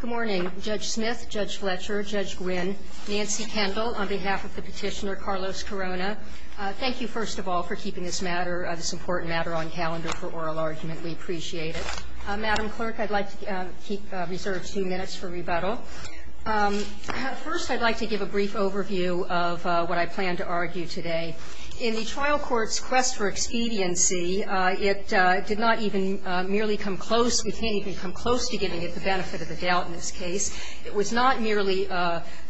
Good morning, Judge Smith, Judge Fletcher, Judge Gwynne, Nancy Kendall, on behalf of the petitioner Carlos Corona. Thank you, first of all, for keeping this matter, this important matter on calendar for oral argument. We appreciate it. Madam Clerk, I'd like to reserve two minutes for rebuttal. First, I'd like to give a brief overview of what I plan to argue today. In the trial court's quest for expediency, it did not even merely come close. We can't even come close to getting at the benefit of the doubt in this case. It was not merely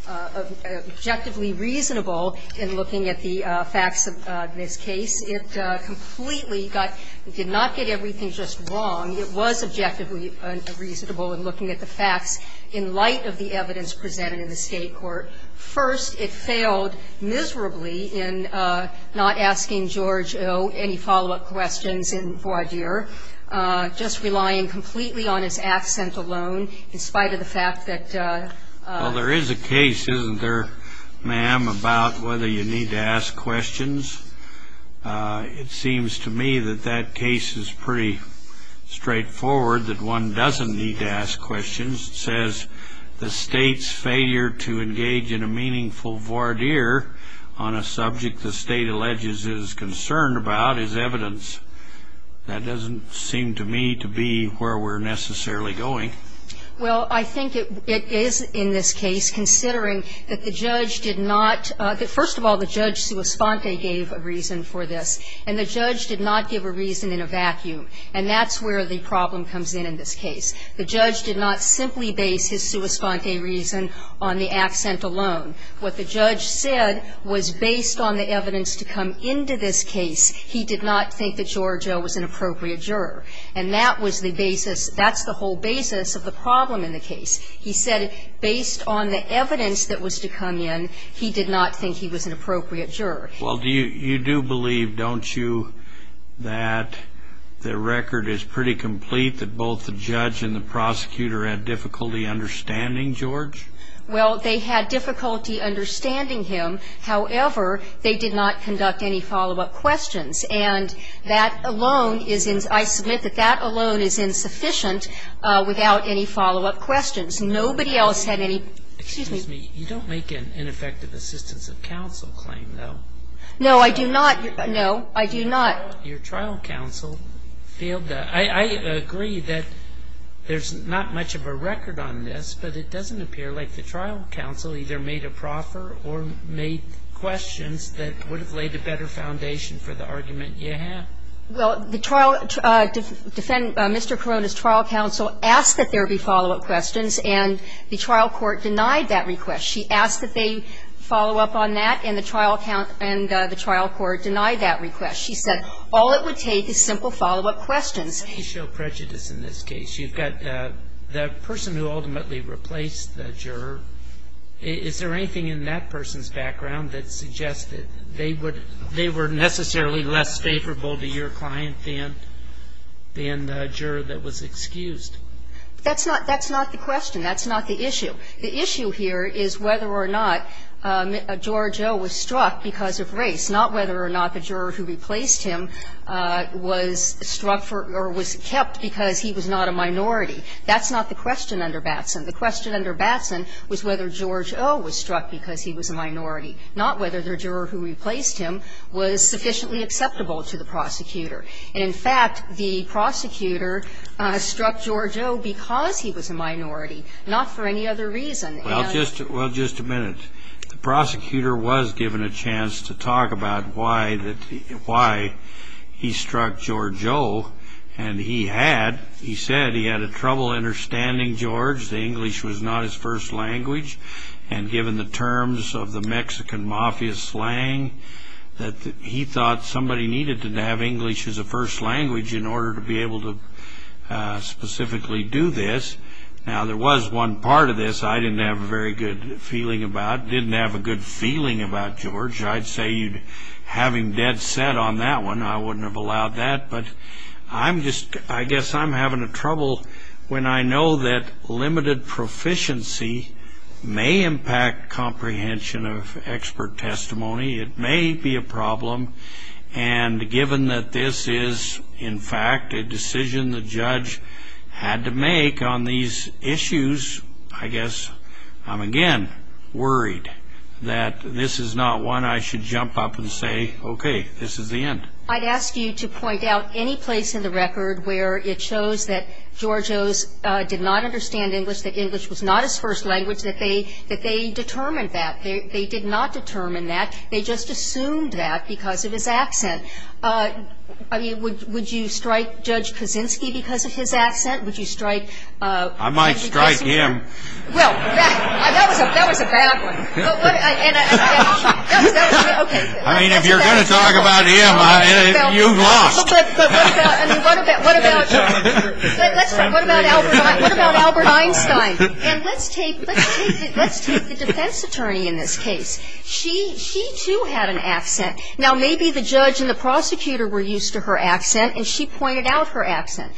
objectively reasonable in looking at the facts of this case. It completely got – did not get everything just wrong. It was objectively reasonable in looking at the facts in light of the evidence presented in the State court. First, it failed miserably in not asking George O. any follow-up questions in voir dire, just relying completely on his accent alone, in spite of the fact that – Well, there is a case, isn't there, ma'am, about whether you need to ask questions? It seems to me that that case is pretty straightforward, that one doesn't need to ask questions. It says the State's failure to engage in a meaningful voir dire on a subject the State alleges it is concerned about is evidence. That doesn't seem to me to be where we're necessarily going. Well, I think it is in this case, considering that the judge did not – first of all, the judge sua sponte gave a reason for this, and the judge did not give a reason in a vacuum, and that's where the problem comes in in this case. The judge did not simply base his sua sponte reason on the accent alone. What the judge said was, based on the evidence to come into this case, he did not think that George O. was an appropriate juror. And that was the basis – that's the whole basis of the problem in the case. He said, based on the evidence that was to come in, he did not think he was an appropriate juror. Well, do you – you do believe, don't you, that the record is pretty complete, that both the judge and the prosecutor had difficulty understanding George? Well, they had difficulty understanding him. However, they did not conduct any follow-up questions. And that alone is – I submit that that alone is insufficient without any follow-up questions. Nobody else had any – excuse me. You don't make an ineffective assistance of counsel claim, though. No, I do not. No, I do not. Your trial counsel failed to – I agree that there's not much of a record on this, but it doesn't appear like the trial counsel either made a proffer or made questions that would have laid a better foundation for the argument you have. Well, the trial – Mr. Corona's trial counsel asked that there be follow-up questions, and the trial court denied that request. She asked that they follow up on that, and the trial count – and the trial court denied that request. She said all it would take is simple follow-up questions. Let me show prejudice in this case. You've got the person who ultimately replaced the juror. Is there anything in that person's background that suggests that they would – they were necessarily less favorable to your client than the juror that was excused? That's not – that's not the question. That's not the issue. The issue here is whether or not George O. was struck because of race, not whether or not the juror who replaced him was struck for – or was kept because he was not a minority. That's not the question under Batson. The question under Batson was whether George O. was struck because he was a minority, not whether the juror who replaced him was sufficiently acceptable to the prosecutor. And in fact, the prosecutor struck George O. because he was a minority, not for any other reason. Well, just – well, just a minute. The prosecutor was given a chance to talk about why that – why he struck George O., and he had – he said he had trouble understanding George. The English was not his first language, and given the terms of the Mexican mafia slang, that he thought somebody needed to have English as a first language in order to be able to specifically do this. Now, there was one part of this I didn't have a very good feeling about, didn't have a good feeling about, George. I'd say you'd have him dead set on that one. I wouldn't have allowed that, but I'm just – I guess I'm having trouble when I know that limited proficiency may impact comprehension of expert testimony. It may be a problem, and given that this is, in fact, a decision the judge had to make on these issues, I guess I'm again worried that this is not one I should jump up and say, okay, this is the end. I'd ask you to point out any place in the record where it shows that George O. did not understand English, that English was not his first language, that they determined that. They did not determine that. They just assumed that because of his accent. I mean, would you strike Judge Kaczynski because of his accent? Would you strike – I might strike him. Well, that was a bad one. I mean, if you're going to talk about him, you've lost. But what about Albert Einstein? And let's take the defense attorney in this case. She, too, had an accent. Now, maybe the judge and the prosecutor were used to her accent, and she pointed out her accent.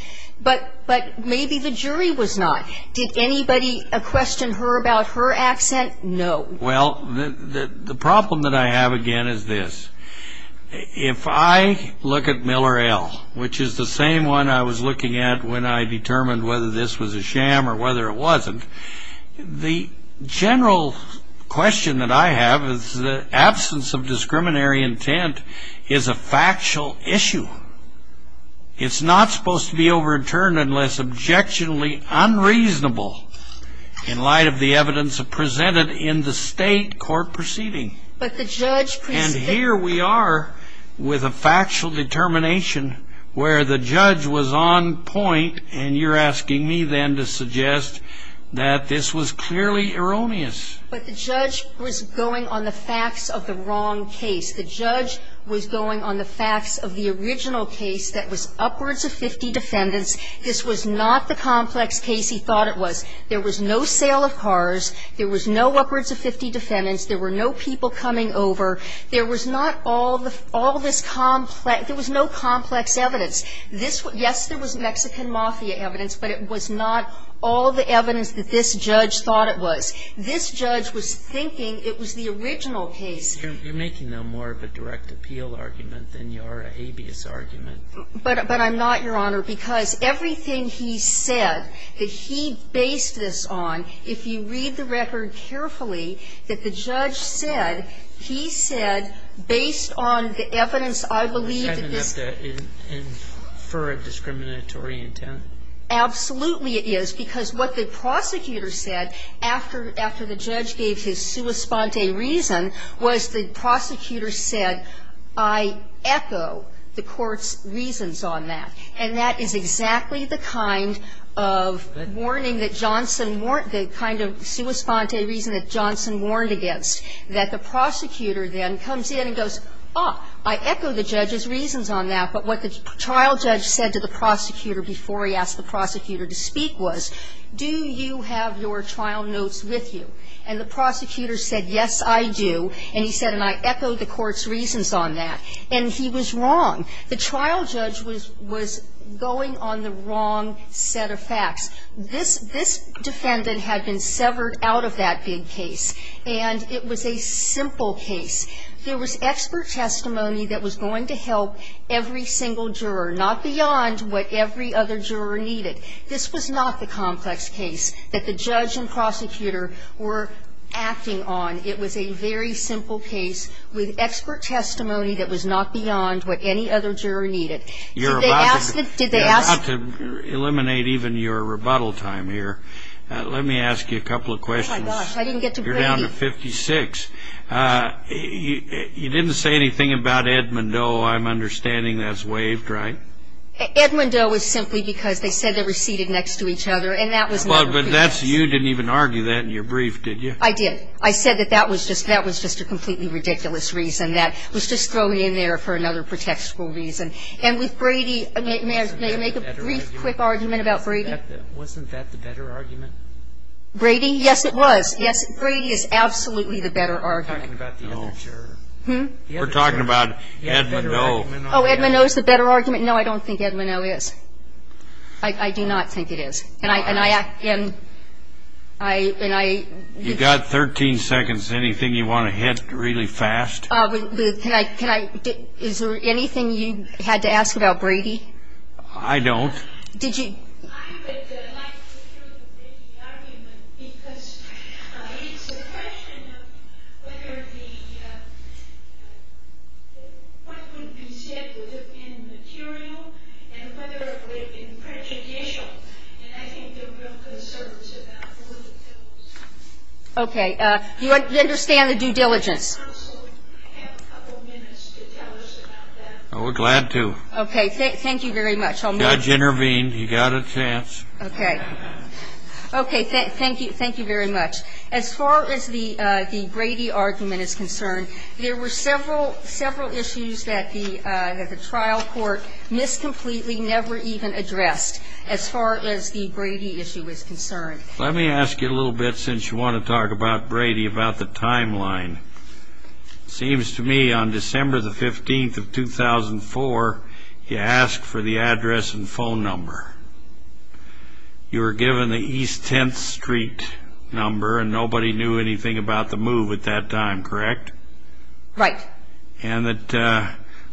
But maybe the jury was not. Did anybody question her about her accent? No. Well, the problem that I have again is this. If I look at Miller L., which is the same one I was looking at when I determined whether this was a sham or whether it wasn't, the general question that I have is that absence of discriminatory intent is a factual issue. It's not supposed to be overturned unless objectionably unreasonable in light of the defendant in the state court proceeding. But the judge – And here we are with a factual determination where the judge was on point, and you're asking me then to suggest that this was clearly erroneous. But the judge was going on the facts of the wrong case. The judge was going on the facts of the original case that was upwards of 50 defendants. This was not the complex case he thought it was. There was no sale of cars. There was no upwards of 50 defendants. There were no people coming over. There was not all this complex – there was no complex evidence. This was – yes, there was Mexican mafia evidence, but it was not all the evidence that this judge thought it was. This judge was thinking it was the original case. You're making more of a direct appeal argument than you are an habeas argument. But I'm not, Your Honor, because everything he said that he based this on, if you read the record carefully, that the judge said, he said, based on the evidence, I believe that this – He's having to infer a discriminatory intent. Absolutely it is, because what the prosecutor said after the judge gave his sua sponte reason was the prosecutor said, I echo the court's reasons on that. And that is exactly the kind of warning that Johnson – the kind of sua sponte reason that Johnson warned against, that the prosecutor then comes in and goes, oh, I echo the judge's reasons on that, but what the trial judge said to the prosecutor before he asked the prosecutor to speak was, do you have your trial notes with you? And the prosecutor said, yes, I do. And he said, and I echo the court's reasons on that. And he was wrong. The trial judge was going on the wrong set of facts. This defendant had been severed out of that big case. And it was a simple case. There was expert testimony that was going to help every single juror, not beyond what every other juror needed. This was not the complex case that the judge and prosecutor were acting on. It was a very simple case with expert testimony that was not beyond what any other juror needed. Did they ask – You're about to eliminate even your rebuttal time here. Let me ask you a couple of questions. Oh, my gosh. I didn't get to – You're down to 56. You didn't say anything about Edmondo. I'm understanding that's waived, right? Edmondo is simply because they said they were seated next to each other. And that was not – But you didn't even argue that in your brief, did you? I did. I said that that was just a completely ridiculous reason. That was just thrown in there for another protectable reason. And with Brady, may I make a brief, quick argument about Brady? Wasn't that the better argument? Brady? Yes, it was. Yes, Brady is absolutely the better argument. We're talking about the other juror. No. We're talking about Edmondo. Oh, Edmondo is the better argument? No, I don't think Edmondo is. I do not think it is. And I – You've got 13 seconds. Anything you want to hit really fast? Can I – is there anything you had to ask about Brady? I don't. Did you – I would like to hear the Brady argument, because it's a question of whether the – what would be said would have been material and whether it would have been prejudicial. And I think there are real concerns about all of those. Okay. Do you understand the due diligence? I also have a couple minutes to tell us about that. Oh, we're glad to. Okay. Thank you very much. I'll move. The judge intervened. He got a chance. Okay. Okay. Thank you. Thank you very much. As far as the Brady argument is concerned, there were several issues that the trial court miscompletely never even addressed. As far as the Brady issue is concerned. Let me ask you a little bit, since you want to talk about Brady, about the timeline. It seems to me on December the 15th of 2004, you asked for the address and phone number. You were given the East 10th Street number, and nobody knew anything about the move at that time, correct? Right. And that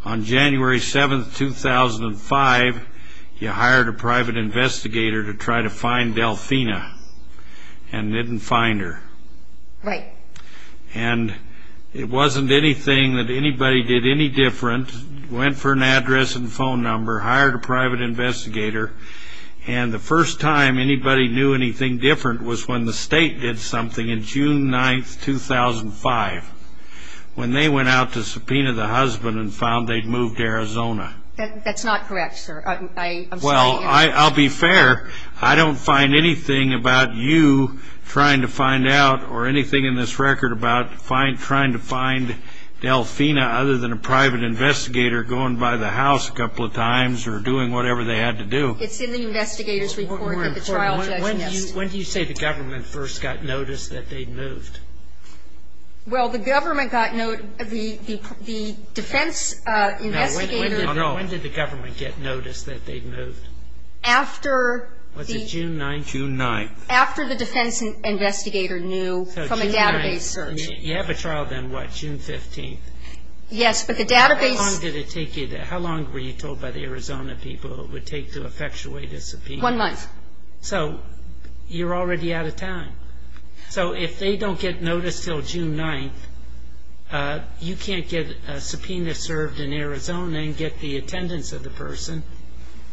on January 7th, 2005, you hired a private investigator to try to find Delfina, and didn't find her. Right. And it wasn't anything that anybody did any different. Went for an address and phone number, hired a private investigator. And the first time anybody knew anything different was when the state did something in June 9th, 2005. When they went out to subpoena the husband and found they'd moved to Arizona. That's not correct, sir. Well, I'll be fair. I don't find anything about you trying to find out or anything in this record about trying to find Delfina, other than a private investigator going by the house a couple of times or doing whatever they had to do. It's in the investigator's report that the trial judge missed. Well, the government got note of the defense investigator. Now, when did the government get notice that they'd moved? After the... Was it June 9th? June 9th. After the defense investigator knew from a database search. So June 9th. You have a trial then, what, June 15th? Yes, but the database... How long did it take you? How long were you told by the Arizona people it would take to effectuate a subpoena? One month. So you're already out of time. So if they don't get notice until June 9th, you can't get a subpoena served in Arizona and get the attendance of the person.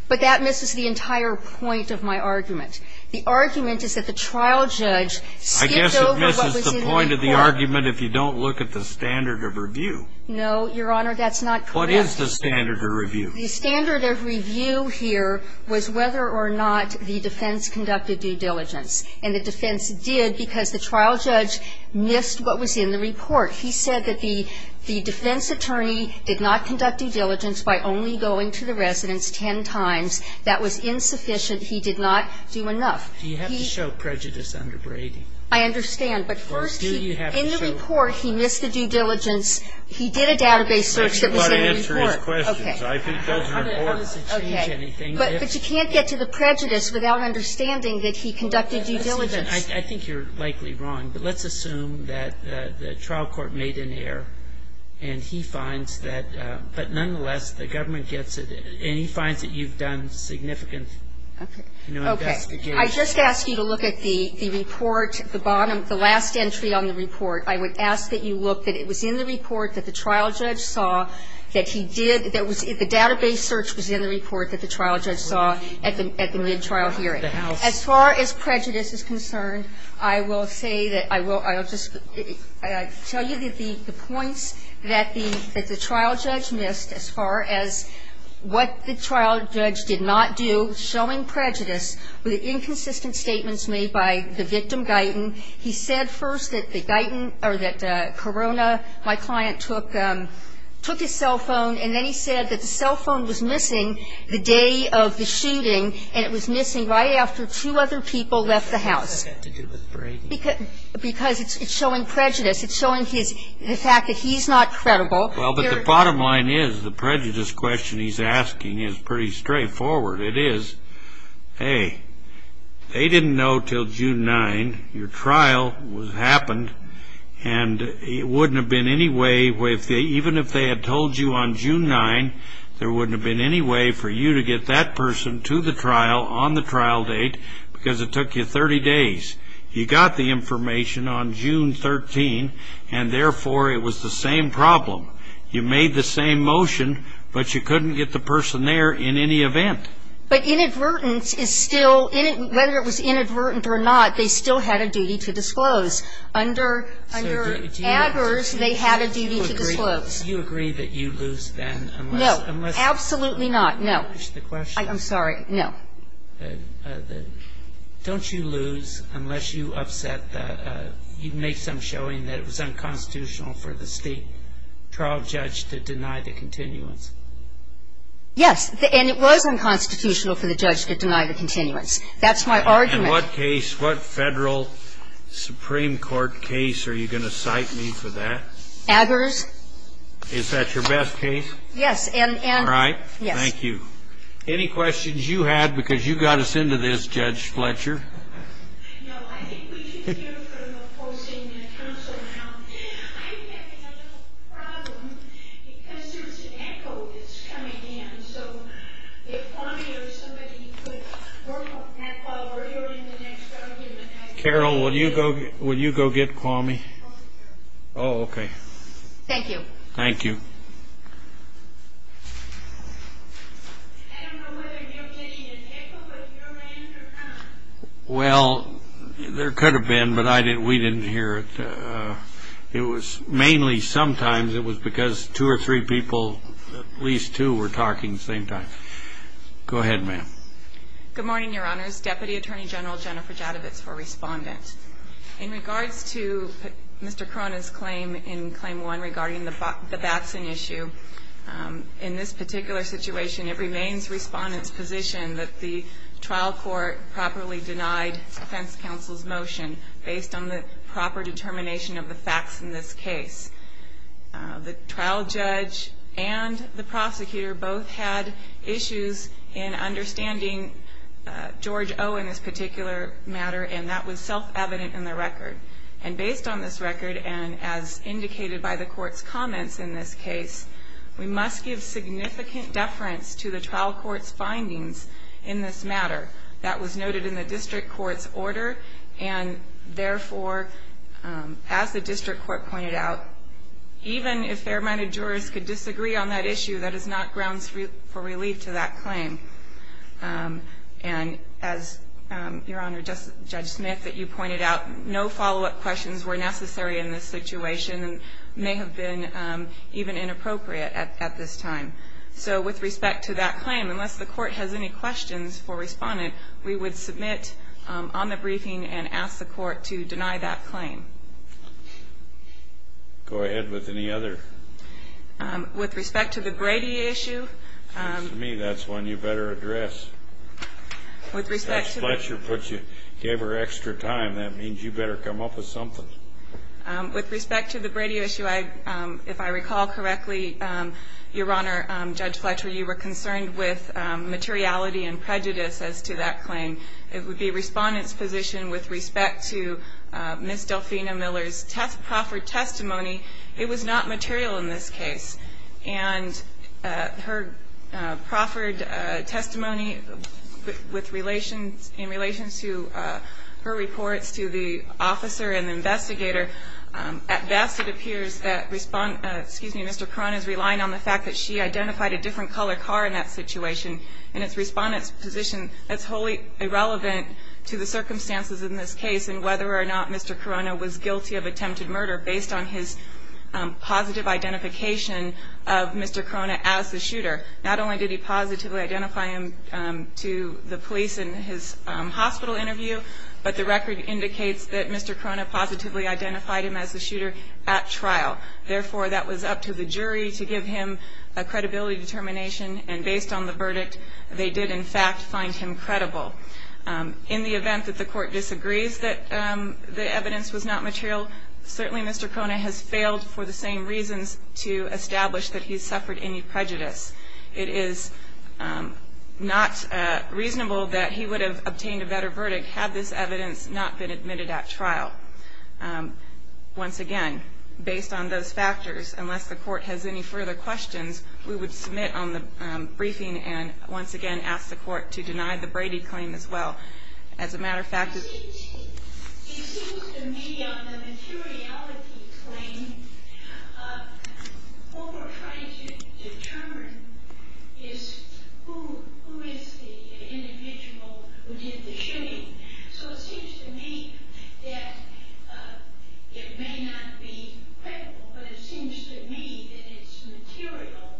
But that misses the entire point of my argument. The argument is that the trial judge skipped over what was in the report. I guess it misses the point of the argument if you don't look at the standard of review. No, Your Honor, that's not correct. What is the standard of review? The standard of review here was whether or not the defense conducted due diligence. And the defense did because the trial judge missed what was in the report. He said that the defense attorney did not conduct due diligence by only going to the residents ten times. That was insufficient. He did not do enough. He... You have to show prejudice under Brady. I understand. But first, he... Or do you have to show... In the report, he missed the due diligence. He did a database search that was in the report. He did not answer his questions. I think that's important. Okay. How does it change anything if... But you can't get to the prejudice without understanding that he conducted due diligence. I think you're likely wrong. But let's assume that the trial court made an error and he finds that... But nonetheless, the government gets it. And he finds that you've done significant... Okay.... investigation. I just ask you to look at the report, the bottom, the last entry on the report. I would ask that you look that it was in the report that the trial judge saw that he did... The database search was in the report that the trial judge saw at the mid-trial hearing. As far as prejudice is concerned, I will say that I will... I'll just tell you the points that the trial judge missed as far as what the trial judge did not do, showing prejudice, were the inconsistent statements made by the victim, Guyton. He said first that the Guyton or that Corona, my client, took his cell phone. And then he said that the cell phone was missing the day of the shooting and it was missing right after two other people left the house. What does that have to do with Brady? Because it's showing prejudice. It's showing his the fact that he's not credible. Well, but the bottom line is the prejudice question he's asking is pretty straightforward. It is, hey, they didn't know until June 9 your trial happened and it wouldn't have been any way, even if they had told you on June 9, there wouldn't have been any way for you to get that person to the trial on the trial date because it took you 30 days. You got the information on June 13 and, therefore, it was the same problem. You made the same motion, but you couldn't get the person there in any event. But inadvertence is still, whether it was inadvertent or not, they still had a duty to disclose. Under Adler's, they had a duty to disclose. Do you agree that you lose then? No. Absolutely not. No. I'm sorry. No. Don't you lose unless you upset the, you make some showing that it was unconstitutional for the state trial judge to deny the continuance? Yes. And it was unconstitutional for the judge to deny the continuance. That's my argument. In what case, what federal Supreme Court case are you going to cite me for that? Adler's. Is that your best case? Yes. All right. Yes. Thank you. Any questions you had because you got us into this, Judge Fletcher? No. I think we should hear from opposing counsel now. I'm having a little problem because there's an echo that's coming in. So if Kwame or somebody could work on that while we're hearing the next argument. Carol, will you go get Kwame? Oh, okay. Thank you. Thank you. I don't know whether you're getting an echo, but your name's reconnected. Well, there could have been, but we didn't hear it. It was mainly sometimes it was because two or three people, at least two, were talking at the same time. Go ahead, ma'am. Good morning, Your Honors. Deputy Attorney General Jennifer Jadovitz for Respondent. In regards to Mr. Cronin's claim in Claim 1 regarding the vaccine issue, in this particular situation it remains Respondent's position that the trial court properly denied defense counsel's motion based on the proper determination of the facts in this case. The trial judge and the prosecutor both had issues in understanding George O in this particular matter, and that was self-evident in the record. And based on this record and as indicated by the court's comments in this case, we must give significant deference to the trial court's findings in this matter. That was noted in the district court's order, and therefore, as the district court pointed out, even if fair-minded jurors could disagree on that issue, that is not grounds for relief to that claim. And as, Your Honor, Judge Smith, you pointed out, no follow-up questions were necessary in this situation and may have been even inappropriate at this time. So with respect to that claim, unless the court has any questions for Respondent, we would submit on the briefing and ask the court to deny that claim. Go ahead with any other. With respect to the Brady issue. To me, that's one you better address. Judge Fletcher gave her extra time. That means you better come up with something. With respect to the Brady issue, if I recall correctly, Your Honor, Judge Fletcher, you were concerned with materiality and prejudice as to that claim. It would be Respondent's position with respect to Ms. Delfina Miller's proffered testimony. It was not material in this case. And her proffered testimony in relation to her reports to the officer and the investigator, at best it appears that Mr. Corona is relying on the fact that she identified a different color car in that situation. And it's Respondent's position that's wholly irrelevant to the circumstances in this case and whether or not Mr. Corona was guilty of attempted murder based on his positive identification of Mr. Corona as the shooter. Not only did he positively identify him to the police in his hospital interview, but the record indicates that Mr. Corona positively identified him as the shooter at trial. Therefore, that was up to the jury to give him a credibility determination. And based on the verdict, they did in fact find him credible. In the event that the court disagrees that the evidence was not material, certainly Mr. Corona has failed for the same reasons to establish that he suffered any prejudice. It is not reasonable that he would have obtained a better verdict had this evidence not been admitted at trial. Once again, based on those factors, unless the court has any further questions, we would submit on the briefing and once again ask the court to deny the Brady claim as well. As a matter of fact, it seems to me on the materiality claim, what we're trying to determine is who is the individual who did the shooting. So it seems to me that it may not be credible, but it seems to me that it's material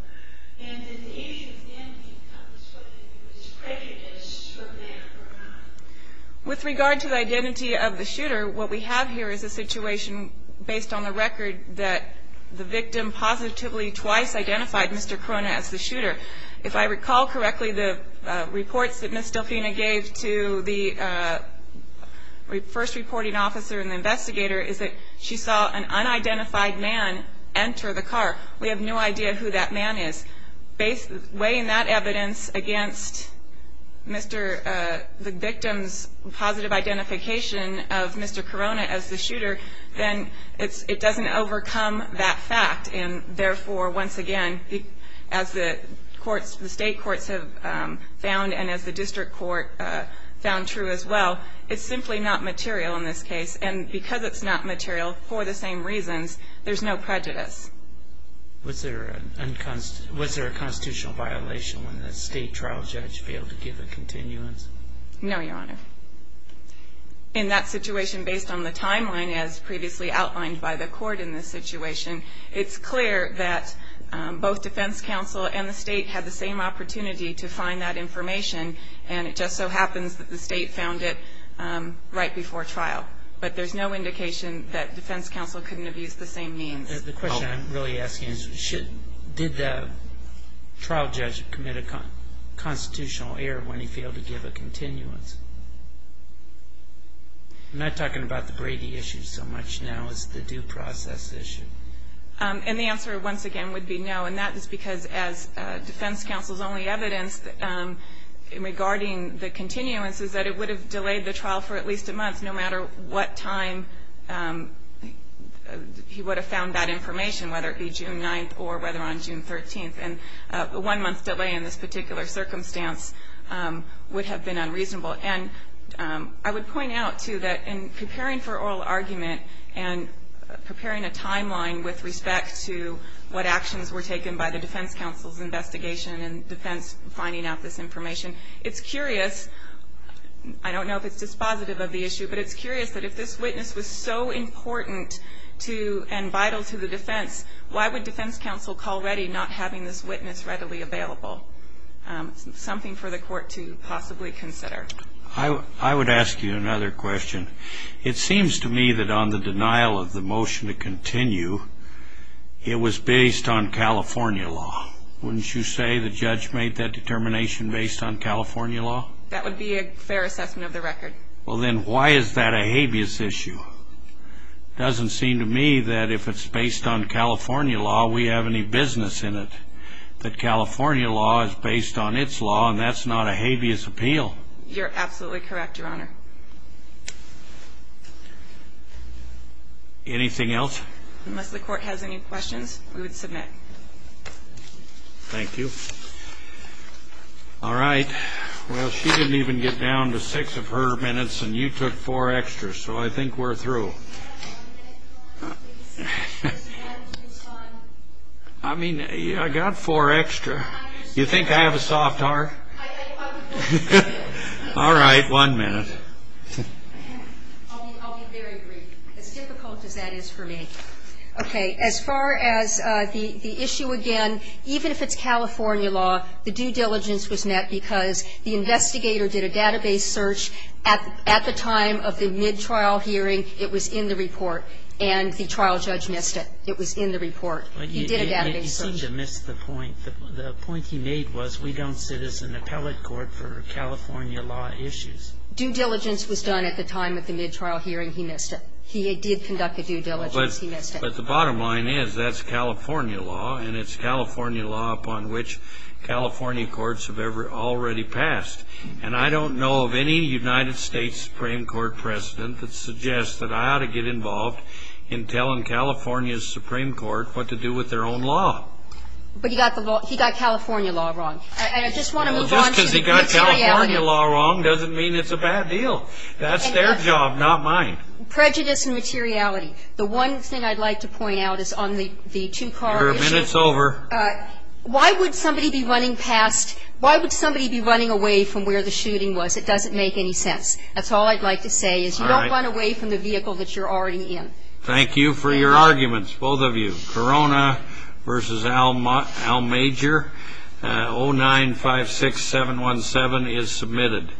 and it's easier then to tell us whether he was prejudiced or male or not. With regard to the identity of the shooter, what we have here is a situation based on the record that the victim positively twice identified Mr. Corona as the shooter. If I recall correctly, the reports that Ms. Delfina gave to the first reporting officer and the investigator is that she saw an unidentified man enter the car. We have no idea who that man is. Weighing that evidence against the victim's positive identification of Mr. Corona as the shooter, then it doesn't overcome that fact and therefore, once again, as the state courts have found and as the district court found true as well, it's simply not material in this case. And because it's not material for the same reasons, there's no prejudice. Was there a constitutional violation when the state trial judge failed to give a continuance? No, Your Honor. In that situation based on the timeline as previously outlined by the court in this situation, it's clear that both defense counsel and the state had the same opportunity to find that information and it just so happens that the state found it right before trial. But there's no indication that defense counsel couldn't have used the same means. The question I'm really asking is did the trial judge commit a constitutional error when he failed to give a continuance? I'm not talking about the Brady issue so much now as the due process issue. And the answer, once again, would be no. And that is because as defense counsel's only evidence regarding the continuance is that it would have delayed the trial for at least a month no matter what time he would have found that information, whether it be June 9th or whether on June 13th. And a one-month delay in this particular circumstance would have been unreasonable. And I would point out, too, that in preparing for oral argument and preparing a timeline with respect to what actions were taken by the defense counsel's investigation and defense finding out this information, it's curious. I don't know if it's dispositive of the issue, but it's curious that if this witness was so important and vital to the defense, why would defense counsel call ready not having this witness readily available? Something for the court to possibly consider. I would ask you another question. It seems to me that on the denial of the motion to continue, it was based on California law. Wouldn't you say the judge made that determination based on California law? That would be a fair assessment of the record. Well, then why is that a habeas issue? It doesn't seem to me that if it's based on California law, we have any business in it, that California law is based on its law and that's not a habeas appeal. You're absolutely correct, Your Honor. Anything else? Unless the court has any questions, we would submit. Thank you. All right. Well, she didn't even get down to six of her minutes and you took four extra, so I think we're through. I mean, I got four extra. You think I have a soft heart? All right, one minute. I'll be very brief. As difficult as that is for me. Okay. As far as the issue again, even if it's California law, the due diligence was met because the investigator did a database search at the time of the mid-trial hearing. It was in the report. And the trial judge missed it. It was in the report. He did a database search. You seem to have missed the point. The point he made was we don't sit as an appellate court for California law issues. Due diligence was done at the time of the mid-trial hearing. He missed it. He did conduct a due diligence. He missed it. But the bottom line is that's California law, and it's California law upon which California courts have already passed. And I don't know of any United States Supreme Court president that suggests that I ought to get involved in telling California's Supreme Court what to do with their own law. But he got California law wrong. And I just want to move on to the mid-trial hearing. Well, just because he got California law wrong doesn't mean it's a bad deal. That's their job, not mine. Prejudice and materiality. The one thing I'd like to point out is on the two-car issue. Your minute's over. Why would somebody be running past? Why would somebody be running away from where the shooting was? It doesn't make any sense. That's all I'd like to say is you don't run away from the vehicle that you're already in. Thank you for your arguments, both of you. Corona v. Al Major, 0956717 is submitted.